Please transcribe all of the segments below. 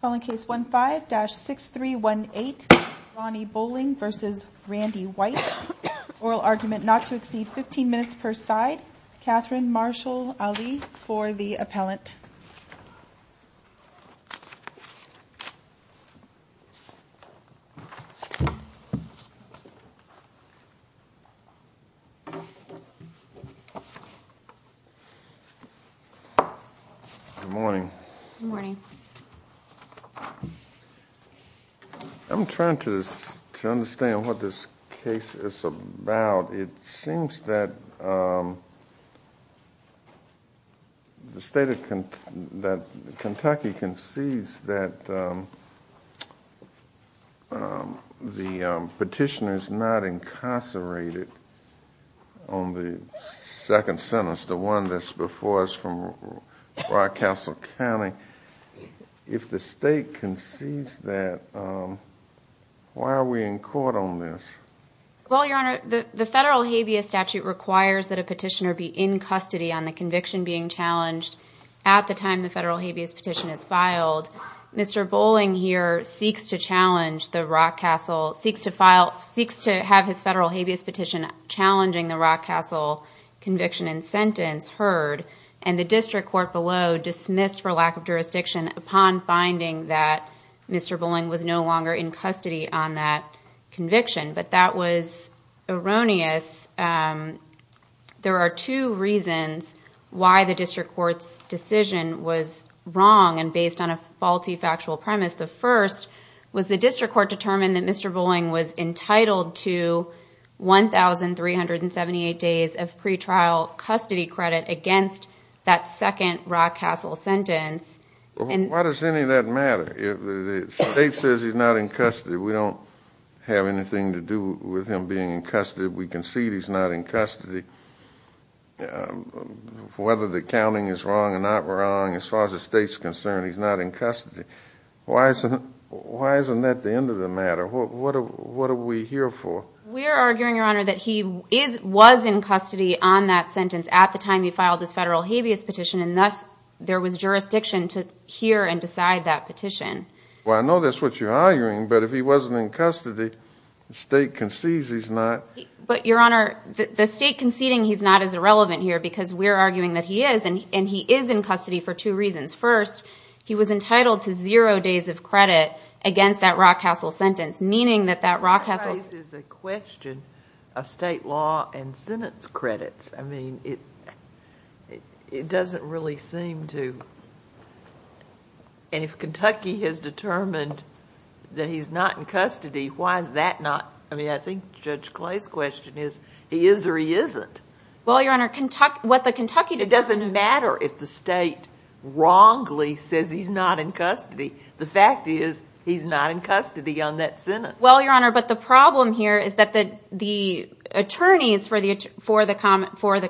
Calling case 15-6318 Ronnie Bowling v. Randy White Oral argument not to exceed 15 minutes per side. Catherine Marshall Ali for the appellant Good morning. Good morning. I'm trying to understand what this case is about. It seems that the state of Kentucky concedes that the petitioner is not incarcerated on the second sentence, the one that's before us from Rockcastle County. If the state concedes that, why are we in court on this? Well, Your Honor, the federal habeas statute requires that a petitioner be in custody on the conviction being challenged at the time the federal habeas petition is filed. Mr. Bowling here seeks to have his federal habeas petition challenging the Rockcastle conviction and sentence heard, and the district court below dismissed for lack of jurisdiction upon finding that Mr. Bowling was no longer in custody on that conviction. But that was erroneous. There are two reasons why the district court's decision was wrong and based on a faulty factual premise. The first was the district court determined that Mr. Bowling was entitled to 1,378 days of pretrial custody credit against that second Rockcastle sentence. Why does any of that matter? If the state says he's not in custody, we don't have anything to do with him being in custody. We concede he's not in custody. Whether the counting is wrong or not wrong, as far as the state's concerned, he's not in custody. Why isn't that the end of the matter? What are we here for? We're arguing, Your Honor, that he was in custody on that sentence at the time he filed his federal habeas petition, and thus there was jurisdiction to hear and decide that petition. Well, I know that's what you're arguing, but if he wasn't in custody, the state concedes he's not. But, Your Honor, the state conceding he's not is irrelevant here because we're arguing that he is, and he is in custody for two reasons. First, he was entitled to zero days of credit against that Rockcastle sentence, meaning that that Rockcastle... ...is a question of state law and sentence credits. I mean, it doesn't really seem to... And if Kentucky has determined that he's not in custody, why is that not... I mean, I think Judge Clay's question is, he is or he isn't. Well, Your Honor, what the Kentucky... It doesn't matter if the state wrongly says he's not in custody. The fact is, he's not in custody on that sentence. Well, Your Honor, but the problem here is that the attorneys for the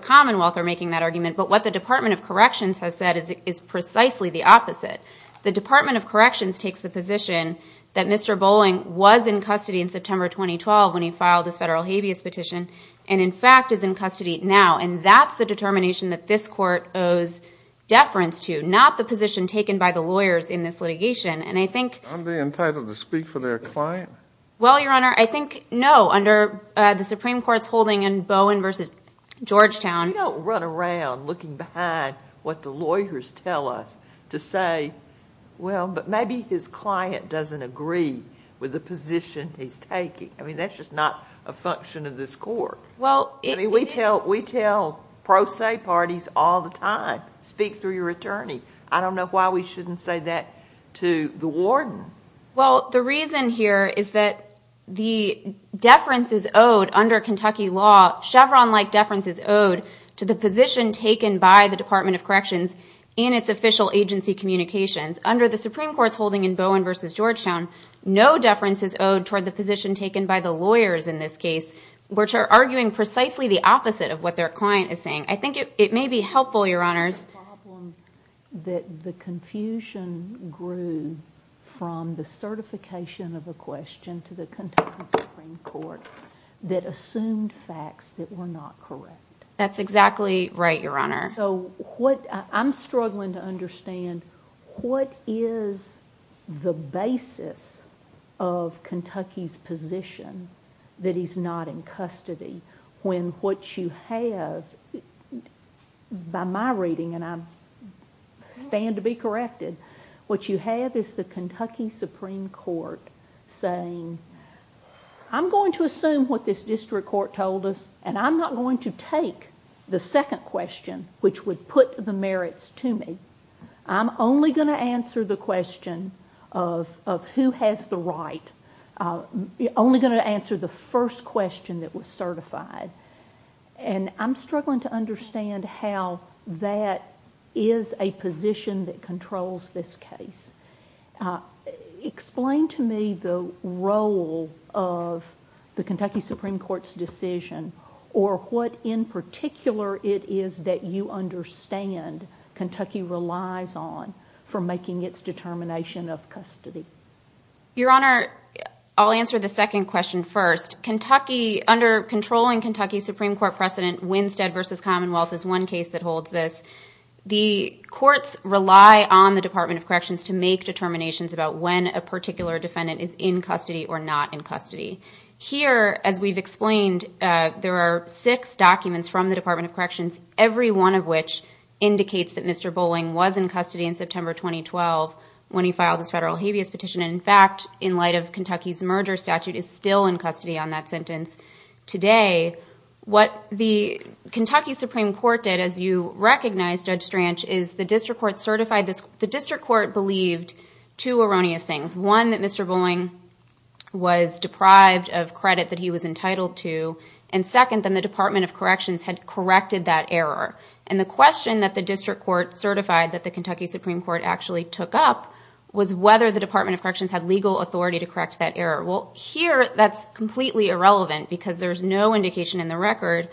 Commonwealth are making that argument, but what the Department of Corrections has said is precisely the opposite. The Department of Corrections takes the position that Mr. Bowling was in custody in September 2012 when he filed his federal habeas petition, and in fact is in custody now. And that's the determination that this court owes deference to, not the position taken by the lawyers in this litigation. And I think... Well, Your Honor, I think no, under the Supreme Court's holding in Bowen v. Georgetown... We don't run around looking behind what the lawyers tell us to say, well, but maybe his client doesn't agree with the position he's taking. I mean, that's just not a function of this court. Well, it... I mean, we tell pro se parties all the time, speak through your attorney. I don't know why we shouldn't say that to the warden. Well, the reason here is that the deference is owed under Kentucky law, Chevron-like deference is owed to the position taken by the Department of Corrections in its official agency communications. Under the Supreme Court's holding in Bowen v. Georgetown, no deference is owed toward the position taken by the lawyers in this case, which are arguing precisely the opposite of what their client is saying. I think it may be helpful, Your Honors... ...that the confusion grew from the certification of a question to the Kentucky Supreme Court that assumed facts that were not correct. That's exactly right, Your Honor. So what... I'm struggling to understand what is the basis of Kentucky's position that he's not in custody when what you have, by my reading, and I stand to be corrected, what you have is the Kentucky Supreme Court saying, I'm going to assume what this district court told us, and I'm not going to take the second question, which would put the merits to me. I'm only going to answer the question of who has the right. I'm only going to answer the first question that was certified. And I'm struggling to understand how that is a position that controls this case. Explain to me the role of the Kentucky Supreme Court's decision or what in particular it is that you understand Kentucky relies on for making its determination of custody. Your Honor, I'll answer the second question first. Under controlling Kentucky Supreme Court precedent, Winstead v. Commonwealth is one case that holds this. The courts rely on the Department of Corrections to make determinations about when a particular defendant is in custody or not in custody. Here, as we've explained, there are six documents from the Department of Corrections, every one of which indicates that Mr. Bolling was in custody in September 2012 when he filed his federal habeas petition. In fact, in light of Kentucky's merger statute, he's still in custody on that sentence today. What the Kentucky Supreme Court did, as you recognize, Judge Stranch, is the district court certified this. The district court believed two erroneous things. One, that Mr. Bolling was deprived of credit that he was entitled to. And second, that the Department of Corrections had corrected that error. And the question that the district court certified that the Kentucky Supreme Court actually took up was whether the Department of Corrections had legal authority to correct that error. Well, here that's completely irrelevant because there's no indication in the record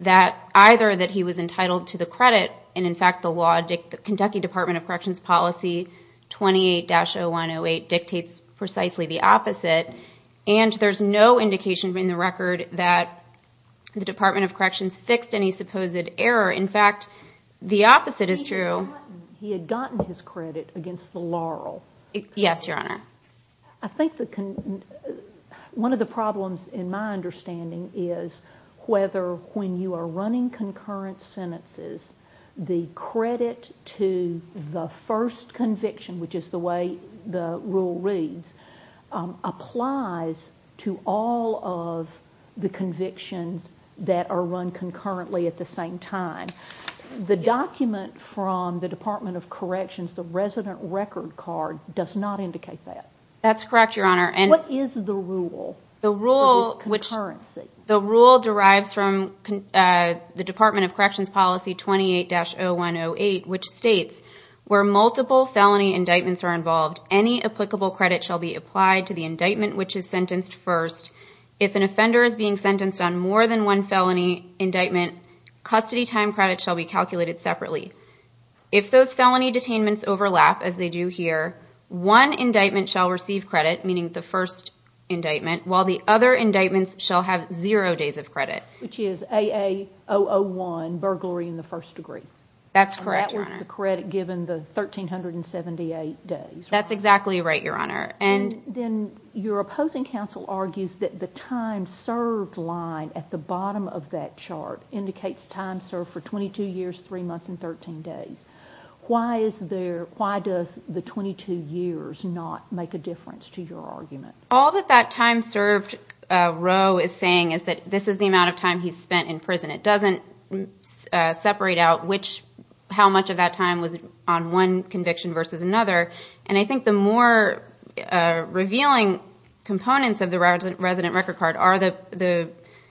that either that he was entitled to the credit, and in fact the Kentucky Department of Corrections policy 28-108 dictates precisely the opposite, and there's no indication in the record that the Department of Corrections fixed any supposed error. In fact, the opposite is true. He had gotten his credit against the laurel. Yes, Your Honor. I think one of the problems in my understanding is whether when you are running concurrent sentences, the credit to the first conviction, which is the way the rule reads, applies to all of the convictions that are run concurrently at the same time. The document from the Department of Corrections, the resident record card, does not indicate that. That's correct, Your Honor. What is the rule for this concurrency? The rule derives from the Department of Corrections policy 28-0108, which states, where multiple felony indictments are involved, any applicable credit shall be applied to the indictment which is sentenced first. If an offender is being sentenced on more than one felony indictment, custody time credit shall be calculated separately. If those felony detainments overlap, as they do here, one indictment shall receive credit, meaning the first indictment, while the other indictments shall have zero days of credit. Which is AA-001, burglary in the first degree. That's correct, Your Honor. That was the credit given the 1,378 days. That's exactly right, Your Honor. Then your opposing counsel argues that the time served line at the bottom of that chart indicates time served for 22 years, 3 months, and 13 days. Why does the 22 years not make a difference to your argument? All that that time served row is saying is that this is the amount of time he spent in prison. It doesn't separate out how much of that time was on one conviction versus another. I think the more revealing components of the resident record card are the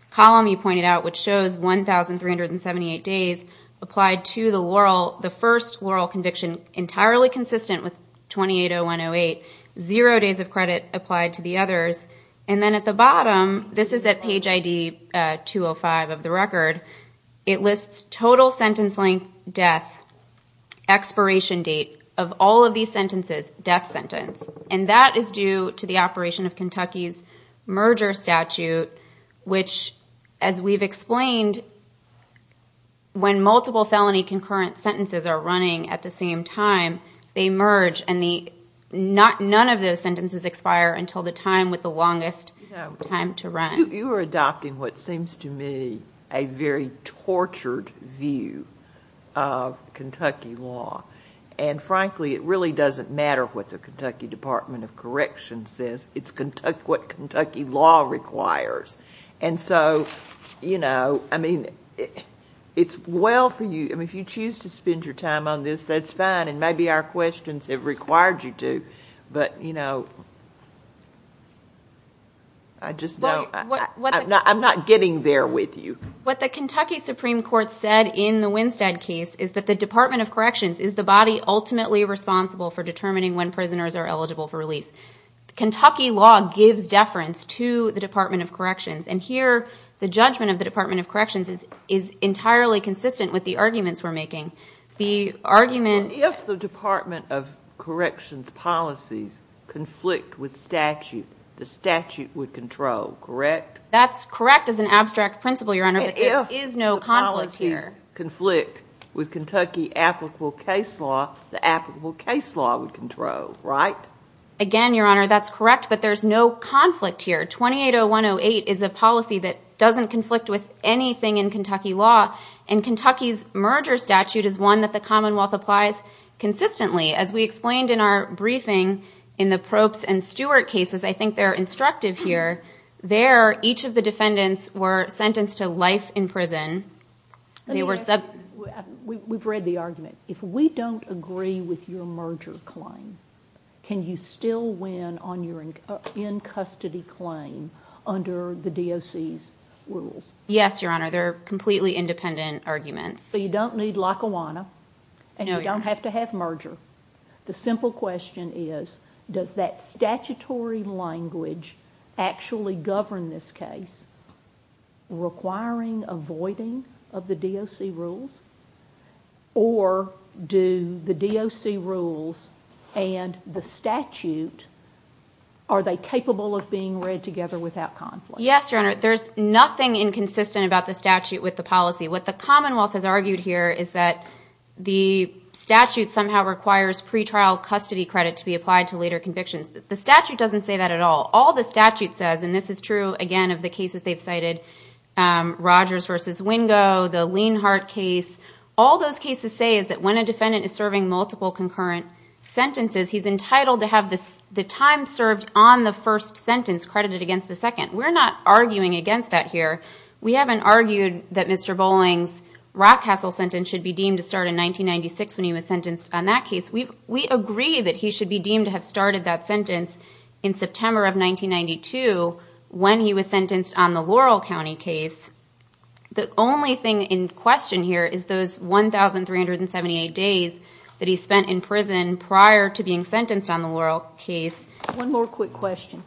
column you pointed out, which shows 1,378 days applied to the first laurel conviction entirely consistent with 28-0108, zero days of credit applied to the others. And then at the bottom, this is at page ID 205 of the record, it lists total sentence length, death, expiration date of all of these sentences, death sentence. And that is due to the operation of Kentucky's merger statute, which, as we've explained, when multiple felony concurrent sentences are running at the same time, they merge and none of those sentences expire until the time with the longest time to run. You are adopting what seems to me a very tortured view of Kentucky law. And frankly, it really doesn't matter what the Kentucky Department of Corrections says. It's what Kentucky law requires. And so, you know, I mean, it's well for you. If you choose to spend your time on this, that's fine. Maybe our questions have required you to. But, you know, I just know I'm not getting there with you. What the Kentucky Supreme Court said in the Winstead case is that the Department of Corrections is the body ultimately responsible for determining when prisoners are eligible for release. Kentucky law gives deference to the Department of Corrections. And here the judgment of the Department of Corrections is entirely consistent with the arguments we're making. If the Department of Corrections policies conflict with statute, the statute would control, correct? That's correct as an abstract principle, Your Honor, but there is no conflict here. If the policies conflict with Kentucky applicable case law, the applicable case law would control, right? Again, Your Honor, that's correct, but there's no conflict here. 280108 is a policy that doesn't conflict with anything in Kentucky law. And Kentucky's merger statute is one that the Commonwealth applies consistently. As we explained in our briefing in the Probst and Stewart cases, I think they're instructive here. There, each of the defendants were sentenced to life in prison. We've read the argument. If we don't agree with your merger claim, can you still win on your in-custody claim under the DOC's rules? Yes, Your Honor, they're completely independent arguments. So you don't need Lackawanna, and you don't have to have merger. The simple question is, does that statutory language actually govern this case, requiring avoiding of the DOC rules? Or do the DOC rules and the statute, are they capable of being read together without conflict? Yes, Your Honor, there's nothing inconsistent about the statute with the policy. What the Commonwealth has argued here is that the statute somehow requires pretrial custody credit to be applied to later convictions. The statute doesn't say that at all. All the statute says, and this is true, again, of the cases they've cited, Rogers v. Wingo, the Leinhart case, all those cases say is that when a defendant is serving multiple concurrent sentences, he's entitled to have the time served on the first sentence credited against the second. We're not arguing against that here. We haven't argued that Mr. Bowling's Rock Castle sentence should be deemed to start in 1996 when he was sentenced on that case. We agree that he should be deemed to have started that sentence in September of 1992 when he was sentenced on the Laurel County case. The only thing in question here is those 1,378 days that he spent in prison prior to being sentenced on the Laurel case. One more quick question.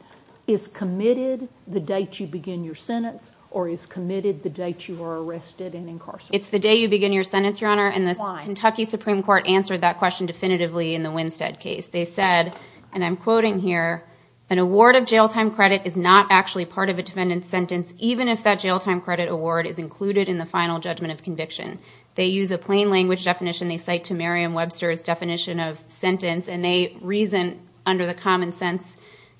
Is committed the date you begin your sentence, or is committed the date you are arrested and incarcerated? It's the day you begin your sentence, Your Honor, and the Kentucky Supreme Court answered that question definitively in the Winstead case. They said, and I'm quoting here, an award of jail time credit is not actually part of a defendant's sentence, even if that jail time credit award is included in the final judgment of conviction. They use a plain language definition they cite to Merriam-Webster's definition of sentence, and they reason under the common sense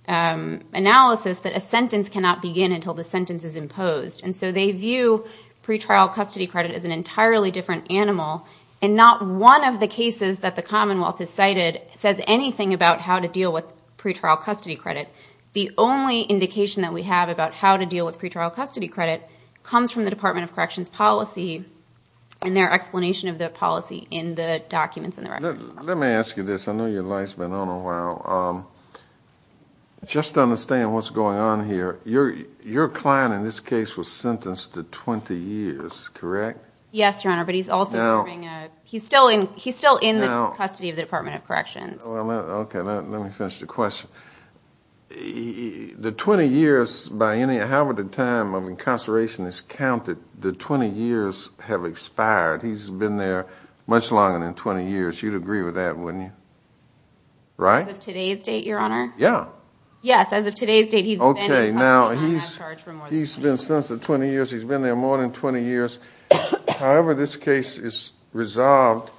analysis that a sentence cannot begin until the sentence is imposed. And so they view pretrial custody credit as an entirely different animal, and not one of the cases that the Commonwealth has cited says anything about how to deal with pretrial custody credit. The only indication that we have about how to deal with pretrial custody credit comes from the Department of Corrections policy and their explanation of the policy in the documents in the record. Let me ask you this. I know your light's been on a while. Just to understand what's going on here, your client in this case was sentenced to 20 years, correct? Yes, Your Honor, but he's still in the custody of the Department of Corrections. Okay, let me finish the question. The 20 years, however the time of incarceration is counted, the 20 years have expired. He's been there much longer than 20 years. You'd agree with that, wouldn't you? Right? As of today's date, Your Honor? Yeah. Yes, as of today's date, he's been in custody and I have charge for more than 20 years. Okay, now he's been sentenced to 20 years. He's been there more than 20 years. However this case is resolved,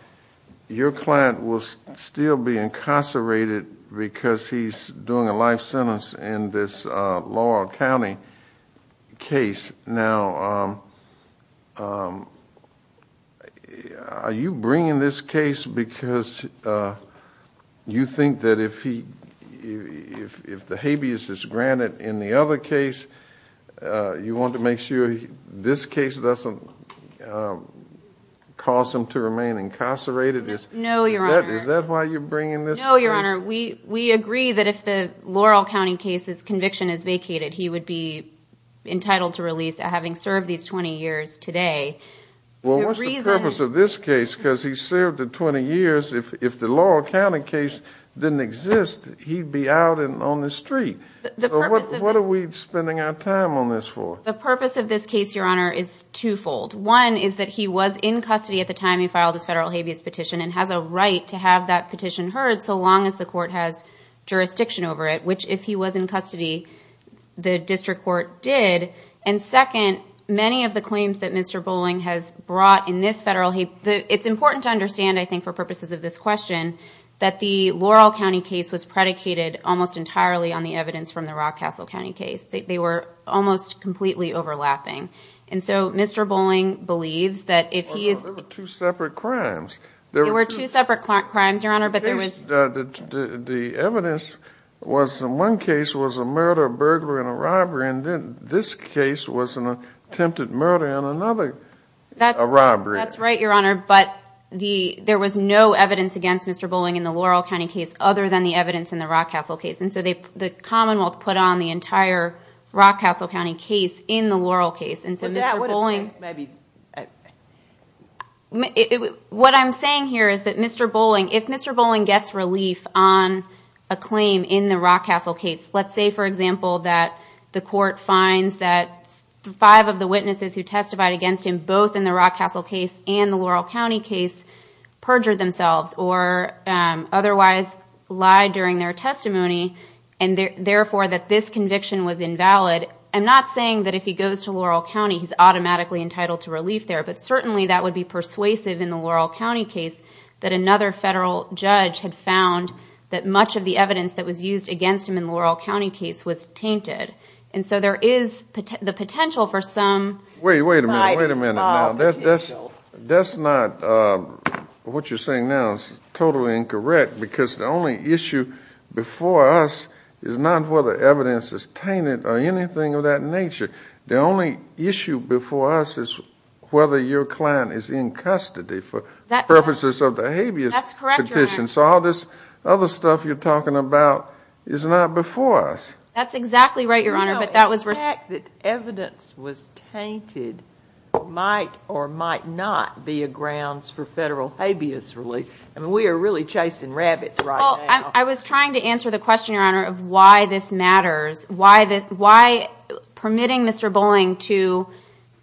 your client will still be incarcerated because he's doing a life sentence in this Laurel County case. Now, are you bringing this case because you think that if the habeas is granted in the other case, you want to make sure this case doesn't cause him to remain incarcerated? No, Your Honor. Is that why you're bringing this case? No, Your Honor. We agree that if the Laurel County case's conviction is vacated, he would be entitled to release having served these 20 years today. Well, what's the purpose of this case? Because he served the 20 years. If the Laurel County case didn't exist, he'd be out and on the street. So what are we spending our time on this for? The purpose of this case, Your Honor, is twofold. One is that he was in custody at the time he filed his federal habeas petition and has a right to have that petition heard so long as the court has jurisdiction over it, which if he was in custody, the district court did. And second, many of the claims that Mr. Bolling has brought in this federal habeas, it's important to understand, I think, for purposes of this question, that the Laurel County case was predicated almost entirely on the evidence from the Rock Castle County case. They were almost completely overlapping. And so Mr. Bolling believes that if he is... But there were two separate crimes. There were two separate crimes, Your Honor, but there was... The evidence was in one case was a murder, a burglary, and a robbery, and then this case was an attempted murder and another robbery. That's right, Your Honor, but there was no evidence against Mr. Bolling in the Laurel County case other than the evidence in the Rock Castle case. And so the Commonwealth put on the entire Rock Castle County case in the Laurel case. And so Mr. Bolling... What I'm saying here is that Mr. Bolling, if Mr. Bolling gets relief on a claim in the Rock Castle case, let's say, for example, that the court finds that five of the witnesses who testified against him, both in the Rock Castle case and the Laurel County case, perjured themselves or otherwise lied during their testimony, and therefore that this conviction was invalid, I'm not saying that if he goes to Laurel County he's automatically entitled to relief there, but certainly that would be persuasive in the Laurel County case that another federal judge had found that much of the evidence that was used against him in the Laurel County case was tainted. And so there is the potential for some... Wait a minute, wait a minute. That's not what you're saying now is totally incorrect because the only issue before us is not whether evidence is tainted or anything of that nature. The only issue before us is whether your client is in custody for purposes of the habeas petition. That's correct, Your Honor. So all this other stuff you're talking about is not before us. That's exactly right, Your Honor. No, the fact that evidence was tainted might or might not be a grounds for federal habeas relief. I mean, we are really chasing rabbits right now. Well, I was trying to answer the question, Your Honor, of why this matters, why permitting Mr. Bowling to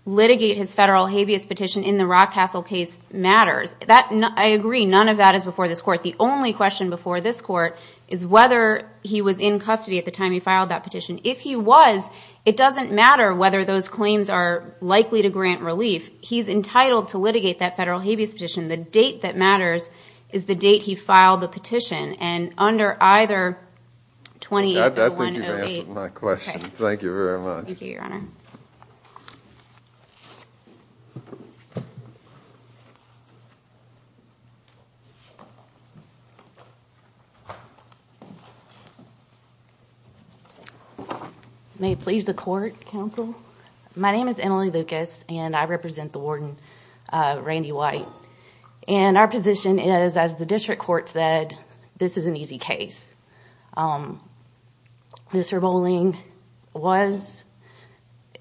litigate his federal habeas petition in the Rock Castle case matters. I agree, none of that is before this Court. The only question before this Court is whether he was in custody at the time he filed that petition. If he was, it doesn't matter whether those claims are likely to grant relief. He's entitled to litigate that federal habeas petition. The date that matters is the date he filed the petition, and under either 28 or 108... I think you've answered my question. Thank you, Your Honor. May it please the Court, Counsel. My name is Emily Lucas, and I represent the warden, Randy White. And our position is, as the district court said, this is an easy case. Mr. Bowling was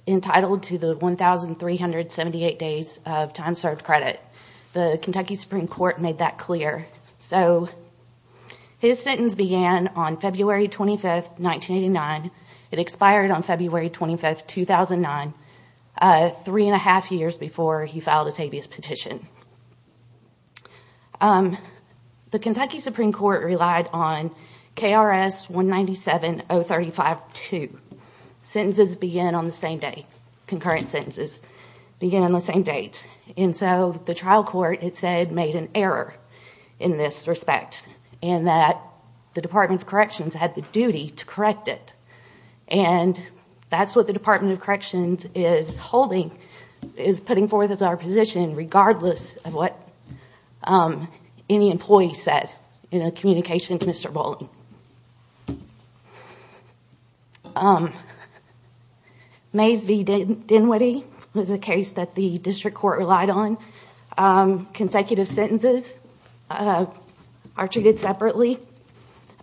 entitled to the 1,378 days of time served credit. The Kentucky Supreme Court made that clear. His sentence began on February 25, 1989. It expired on February 25, 2009, three and a half years before he filed his habeas petition. The Kentucky Supreme Court relied on KRS 197-035-2. Concurrent sentences begin on the same date. And so the trial court, it said, made an error in this respect, in that the Department of Corrections had the duty to correct it. And that's what the Department of Corrections is holding, is putting forth as our position, regardless of what any employee said in a communication to Mr. Bowling. Mays v. Dinwiddie was a case that the district court relied on. Consecutive sentences are treated separately.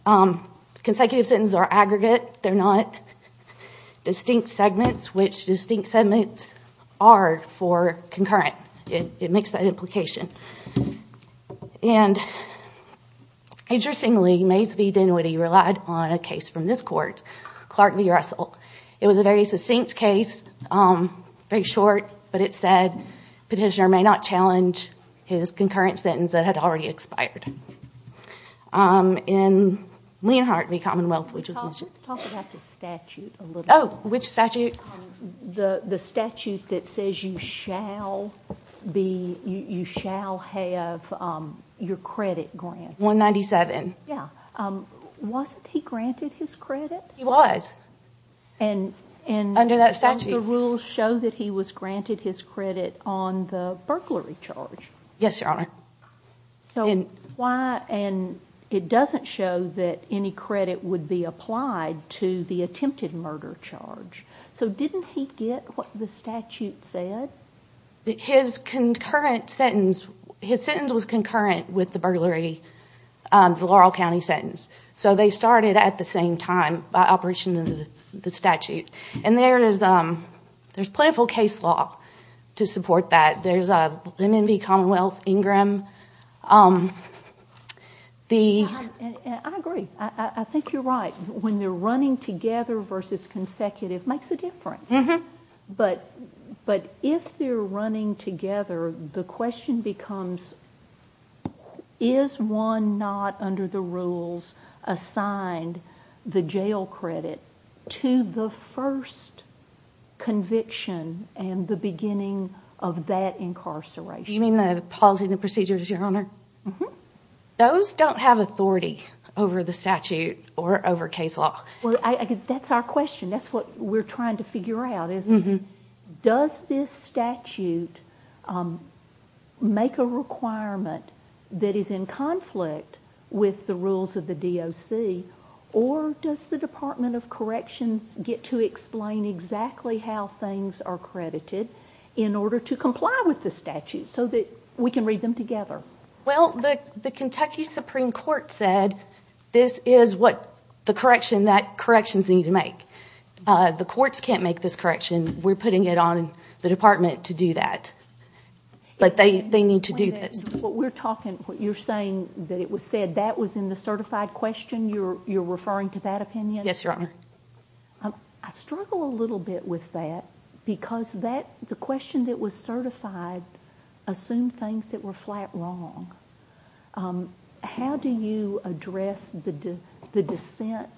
Consecutive sentences are aggregate. They're not distinct segments, which distinct segments are for concurrent. It makes that implication. And, interestingly, Mays v. Dinwiddie relied on a case from this court, Clark v. Russell. It was a very succinct case, very short, but it said, petitioner may not challenge his concurrent sentence that had already expired. In Leonhard v. Commonwealth, which was Michigan. Talk about the statute a little bit. Oh, which statute? The statute that says you shall have your credit granted. 197. Yeah. Wasn't he granted his credit? He was. Under that statute. And some of the rules show that he was granted his credit on the burglary charge. Yes, Your Honor. And it doesn't show that any credit would be applied to the attempted murder charge. So didn't he get what the statute said? His sentence was concurrent with the burglary, the Laurel County sentence. So they started at the same time by operation of the statute. And there's plentiful case law to support that. There's Lenin v. Commonwealth, Ingram. I agree. I think you're right. When they're running together versus consecutive makes a difference. But if they're running together, the question becomes, is one not under the rules assigned the jail credit to the first conviction and the beginning of that incarceration? You mean the policy and the procedures, Your Honor? Mm-hmm. Those don't have authority over the statute or over case law. Well, that's our question. That's what we're trying to figure out is, does this statute make a requirement that is in conflict with the rules of the DOC, or does the Department of Corrections get to explain exactly how things are credited in order to comply with the statute so that we can read them together? Well, the Kentucky Supreme Court said this is what the corrections need to make. The courts can't make this correction. We're putting it on the department to do that. But they need to do this. You're saying that it was said that was in the certified question. You're referring to that opinion? Yes, Your Honor. I struggle a little bit with that, because the question that was certified assumed things that were flat wrong. How do you address the dissent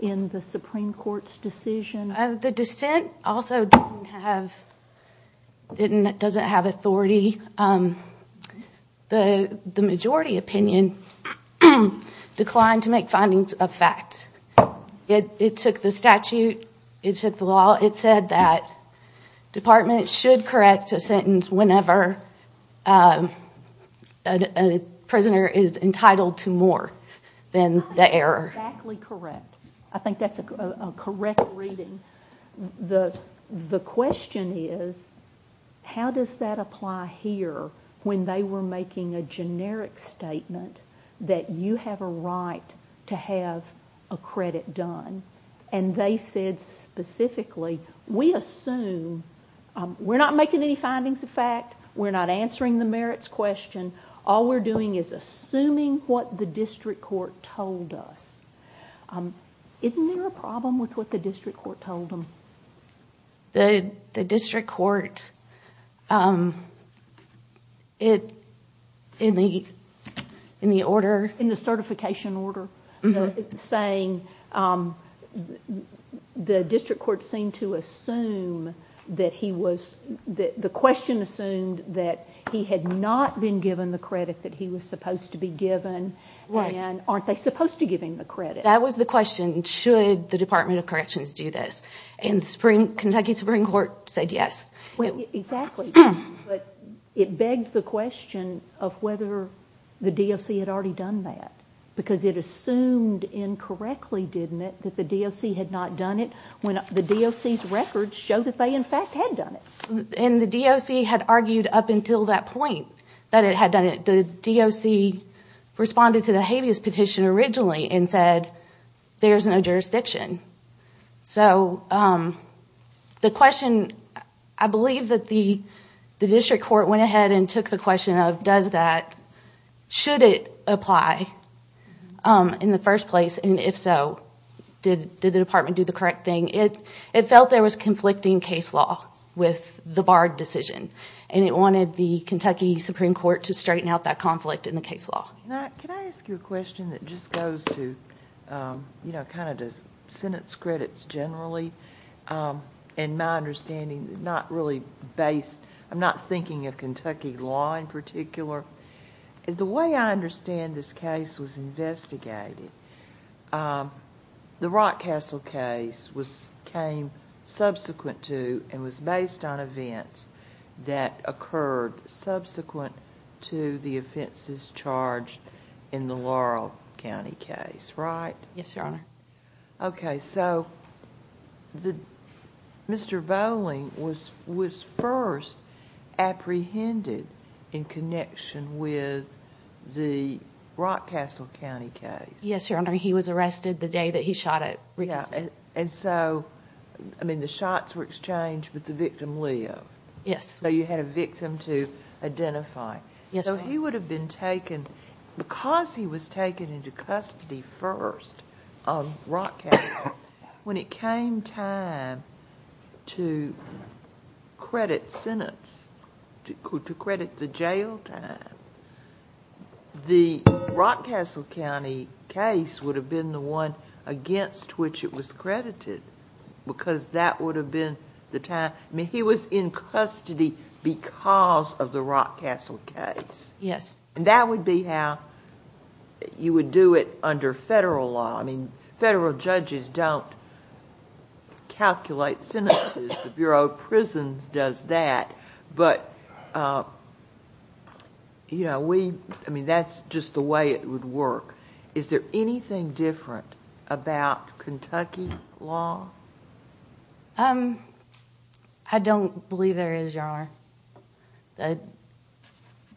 in the Supreme Court's decision? The dissent also doesn't have authority. The majority opinion declined to make findings of fact. It took the statute. It took the law. It said that departments should correct a sentence whenever a prisoner is entitled to more than the error. That's exactly correct. I think that's a correct reading. The question is how does that apply here when they were making a generic statement that you have a right to have a credit done, and they said specifically we assume we're not making any findings of fact. We're not answering the merits question. All we're doing is assuming what the district court told us. Isn't there a problem with what the district court told them? The district court, in the order— In the certification order, saying the district court seemed to assume that he was— the question assumed that he had not been given the credit that he was supposed to be given, and aren't they supposed to give him the credit? That was the question. Should the Department of Corrections do this? And the Kentucky Supreme Court said yes. Exactly, but it begged the question of whether the DOC had already done that because it assumed incorrectly, didn't it, that the DOC had not done it when the DOC's records showed that they, in fact, had done it. And the DOC had argued up until that point that it had done it. But the DOC responded to the habeas petition originally and said, there's no jurisdiction. So the question— I believe that the district court went ahead and took the question of does that— should it apply in the first place? And if so, did the department do the correct thing? It felt there was conflicting case law with the Bard decision, and it wanted the Kentucky Supreme Court to straighten out that conflict in the case law. Can I ask you a question that just goes to kind of the sentence credits generally and my understanding is not really based—I'm not thinking of Kentucky law in particular. The way I understand this case was investigated, the Rockcastle case came subsequent to and was based on events that occurred subsequent to the offenses charged in the Laurel County case, right? Yes, Your Honor. Okay, so Mr. Bowling was first apprehended in connection with the Rockcastle County case. Yes, Your Honor. He was arrested the day that he shot at Rickerson. And so, I mean, the shots were exchanged with the victim, Leo. Yes. So you had a victim to identify. Yes, ma'am. So he would have been taken—because he was taken into custody first on Rockcastle, when it came time to credit sentence, to credit the jail time, the Rockcastle County case would have been the one against which it was credited because that would have been the time—I mean, he was in custody because of the Rockcastle case. Yes. And that would be how you would do it under federal law. I mean, federal judges don't calculate sentences. The Bureau of Prisons does that, but, you know, we—I mean, that's just the way it would work. Is there anything different about Kentucky law? I don't believe there is, Your Honor.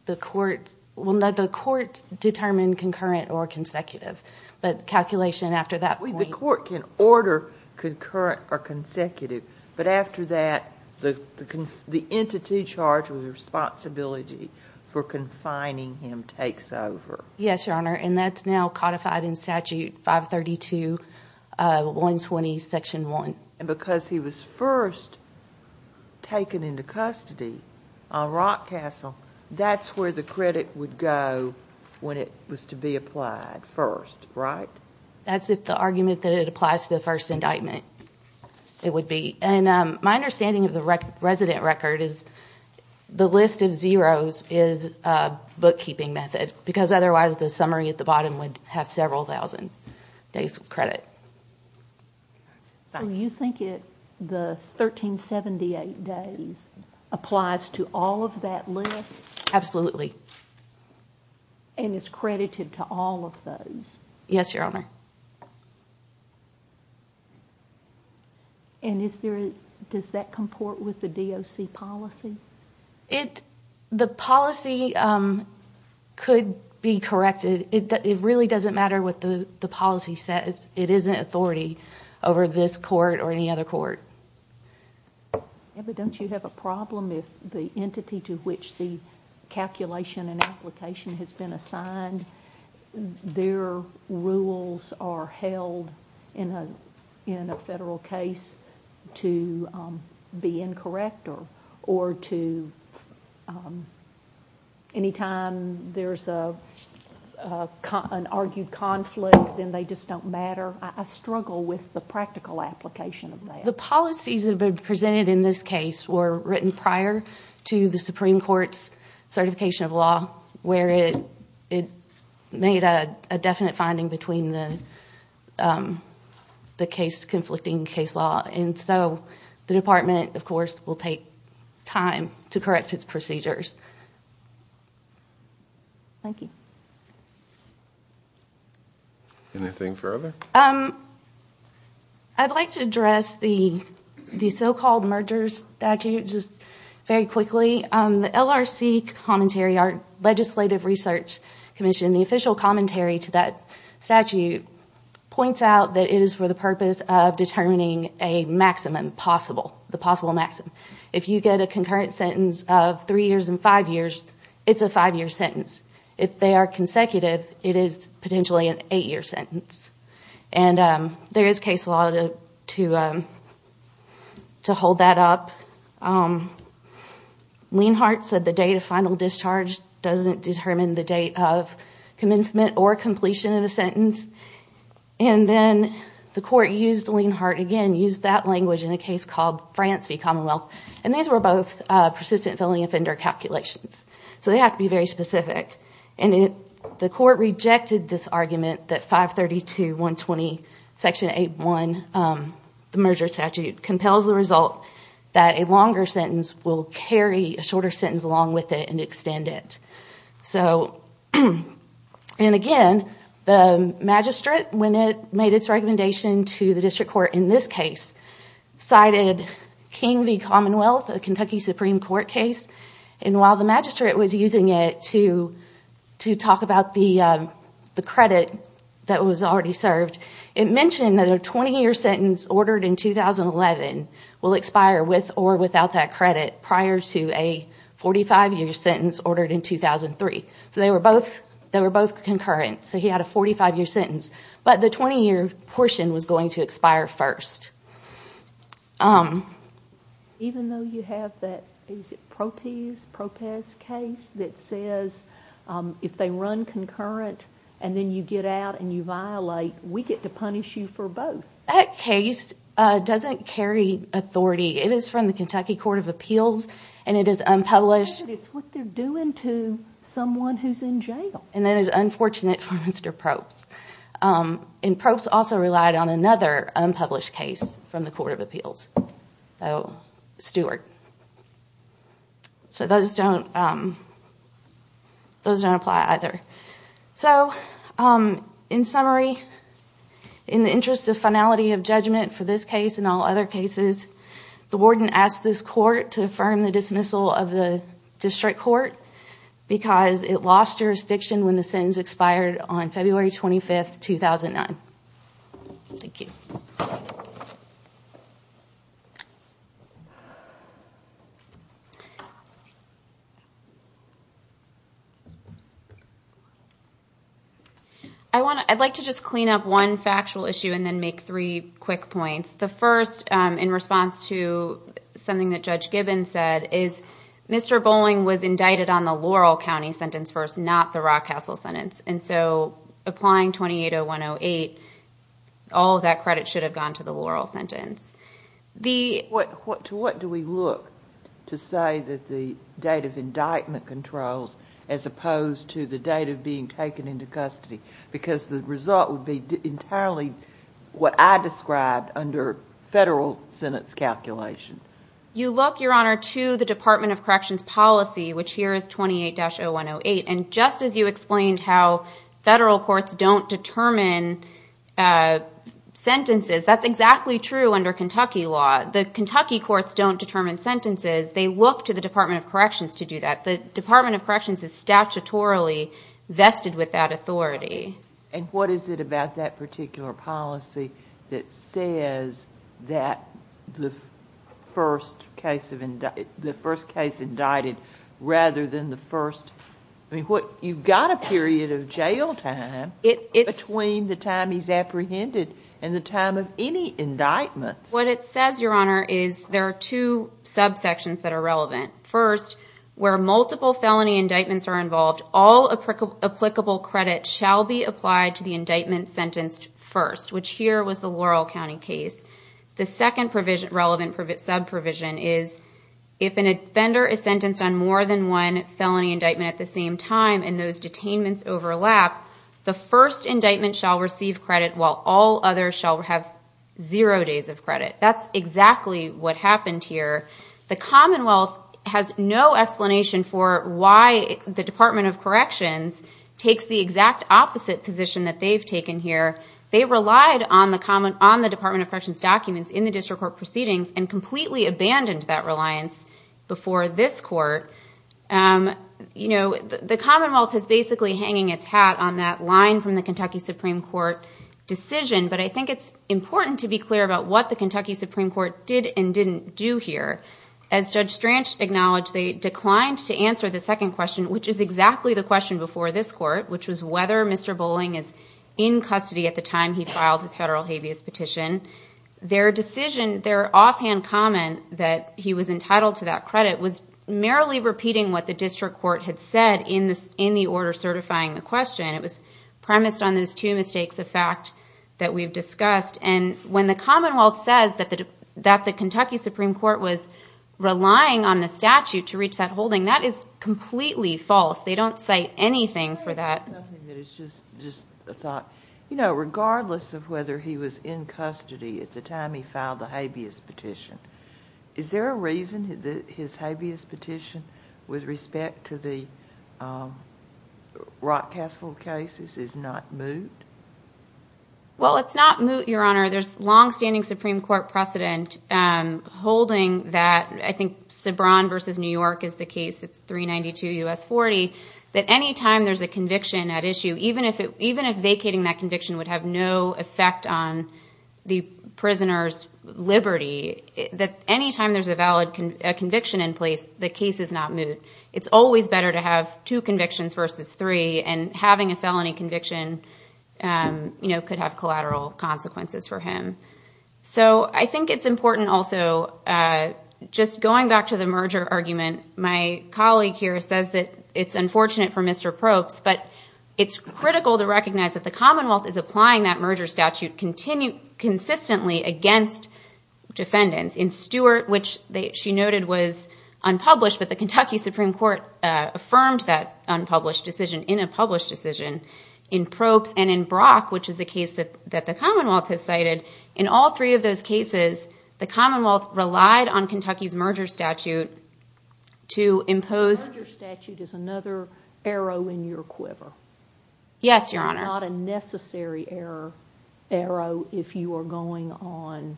The courts—well, no, the courts determine concurrent or consecutive, but calculation after that point— The court can order concurrent or consecutive, but after that the entity charged with responsibility for confining him takes over. Yes, Your Honor, and that's now codified in Statute 532.120, Section 1. And because he was first taken into custody on Rockcastle, that's where the credit would go when it was to be applied first, right? That's if the argument that it applies to the first indictment, it would be. And my understanding of the resident record is the list of zeros is a bookkeeping method because otherwise the summary at the bottom would have several thousand days of credit. So you think the 1,378 days applies to all of that list? Absolutely. And is credited to all of those? Yes, Your Honor. And does that comport with the DOC policy? The policy could be corrected. It really doesn't matter what the policy says. It isn't authority over this court or any other court. But don't you have a problem if the entity to which the calculation and application has been assigned, their rules are held in a federal case to be incorrect or to anytime there's an argued conflict, then they just don't matter? I struggle with the practical application of that. The policies that have been presented in this case were written prior to the Supreme Court's certification of law where it made a definite finding between the conflicting case law. And so the Department, of course, will take time to correct its procedures. Thank you. Anything further? I'd like to address the so-called mergers statute just very quickly. The LRC commentary, our Legislative Research Commission, the official commentary to that statute, points out that it is for the purpose of determining a maximum possible, the possible maximum. If you get a concurrent sentence of three years and five years, it's a five-year sentence. If they are consecutive, it is potentially an eight-year sentence. And there is case law to hold that up. Lienhardt said the date of final discharge doesn't determine the date of commencement or completion of a sentence. And then the court used Lienhardt again, used that language in a case called France v. Commonwealth. And these were both persistent felony offender calculations. So they have to be very specific. And the court rejected this argument that 532.120, Section 8.1, the merger statute, compels the result that a longer sentence will carry a shorter sentence along with it and extend it. So, and again, the magistrate, when it made its recommendation to the district court in this case, cited King v. Commonwealth, a Kentucky Supreme Court case. And while the magistrate was using it to talk about the credit that was already served, it mentioned that a 20-year sentence ordered in 2011 will expire with or without that credit prior to a 45-year sentence ordered in 2003. So they were both concurrent. So he had a 45-year sentence. But the 20-year portion was going to expire first. Even though you have that, is it Propez case that says if they run concurrent and then you get out and you violate, we get to punish you for both. That case doesn't carry authority. It is from the Kentucky Court of Appeals and it is unpublished. But it's what they're doing to someone who's in jail. And that is unfortunate for Mr. Probst. And Probst also relied on another unpublished case from the Court of Appeals. So, Stewart. So those don't apply either. So, in summary, in the interest of finality of judgment for this case and all other cases, the warden asked this court to affirm the dismissal of the district court because it lost jurisdiction when the sentence expired on February 25, 2009. Thank you. I'd like to just clean up one factual issue and then make three quick points. The first, in response to something that Judge Gibbons said, is Mr. Bowling was indicted on the Laurel County sentence first, not the Rock Castle sentence. And so, applying 280108, all of that credit should have gone to the Laurel sentence. To what do we look to say that the date of indictment controls as opposed to the date of being taken into custody? Because the result would be entirely what I described under federal sentence calculation. You look, Your Honor, to the Department of Corrections policy, which here is 280108. And just as you explained how federal courts don't determine sentences, that's exactly true under Kentucky law. The Kentucky courts don't determine sentences. They look to the Department of Corrections to do that. The Department of Corrections is statutorily vested with that authority. And what is it about that particular policy that says that the first case indicted rather than the first... I mean, you've got a period of jail time between the time he's apprehended and the time of any indictments. What it says, Your Honor, is there are two subsections that are relevant. First, where multiple felony indictments are involved, all applicable credit shall be applied to the indictment sentenced first, which here was the Laurel County case. The second relevant subprovision is, if an offender is sentenced on more than one felony indictment at the same time and those detainments overlap, the first indictment shall receive credit while all others shall have zero days of credit. That's exactly what happened here. The Commonwealth has no explanation for why the Department of Corrections takes the exact opposite position that they've taken here. They relied on the Department of Corrections documents in the district court proceedings and completely abandoned that reliance before this court. The Commonwealth is basically hanging its hat on that line from the Kentucky Supreme Court decision, but I think it's important to be clear about what the Kentucky Supreme Court did and didn't do here. As Judge Stranch acknowledged, they declined to answer the second question, which is exactly the question before this court, which was whether Mr. Bowling is in custody at the time he filed his federal habeas petition. Their decision, their offhand comment that he was entitled to that credit, was merrily repeating what the district court had said in the order certifying the question. It was premised on those two mistakes of fact that we've discussed, and when the Commonwealth says that the Kentucky Supreme Court was relying on the statute to reach that holding, that is completely false. They don't cite anything for that. It's just a thought. Regardless of whether he was in custody at the time he filed the habeas petition, is there a reason that his habeas petition with respect to the Rockcastle cases is not moot? Well, it's not moot, Your Honor. There's longstanding Supreme Court precedent holding that. I think Sabran v. New York is the case. It's 392 U.S. 40. That any time there's a conviction at issue, even if vacating that conviction would have no effect on the prisoner's liberty, that any time there's a valid conviction in place, the case is not moot. It's always better to have two convictions versus three, and having a felony conviction could have collateral consequences for him. So I think it's important also, just going back to the merger argument, my colleague here says that it's unfortunate for Mr. Probst, but it's critical to recognize that the Commonwealth is applying that merger statute consistently against defendants. In Stewart, which she noted was unpublished, but the Kentucky Supreme Court affirmed that unpublished decision in a published decision. In Probst and in Brock, which is a case that the Commonwealth has cited, in all three of those cases, the Commonwealth relied on Kentucky's merger statute to impose... The merger statute is another arrow in your quiver. Yes, Your Honor. Not a necessary arrow if you are going on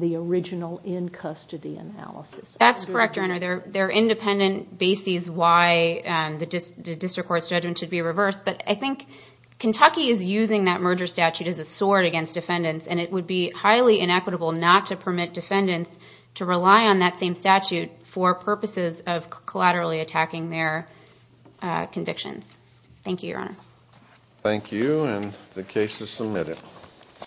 the original in-custody analysis. That's correct, Your Honor. There are independent bases why the district court's judgment should be reversed, but I think Kentucky is using that merger statute as a sword against defendants, and it would be highly inequitable not to permit defendants to rely on that same statute for purposes of collaterally attacking their convictions. Thank you, Your Honor. Thank you, and the case is submitted.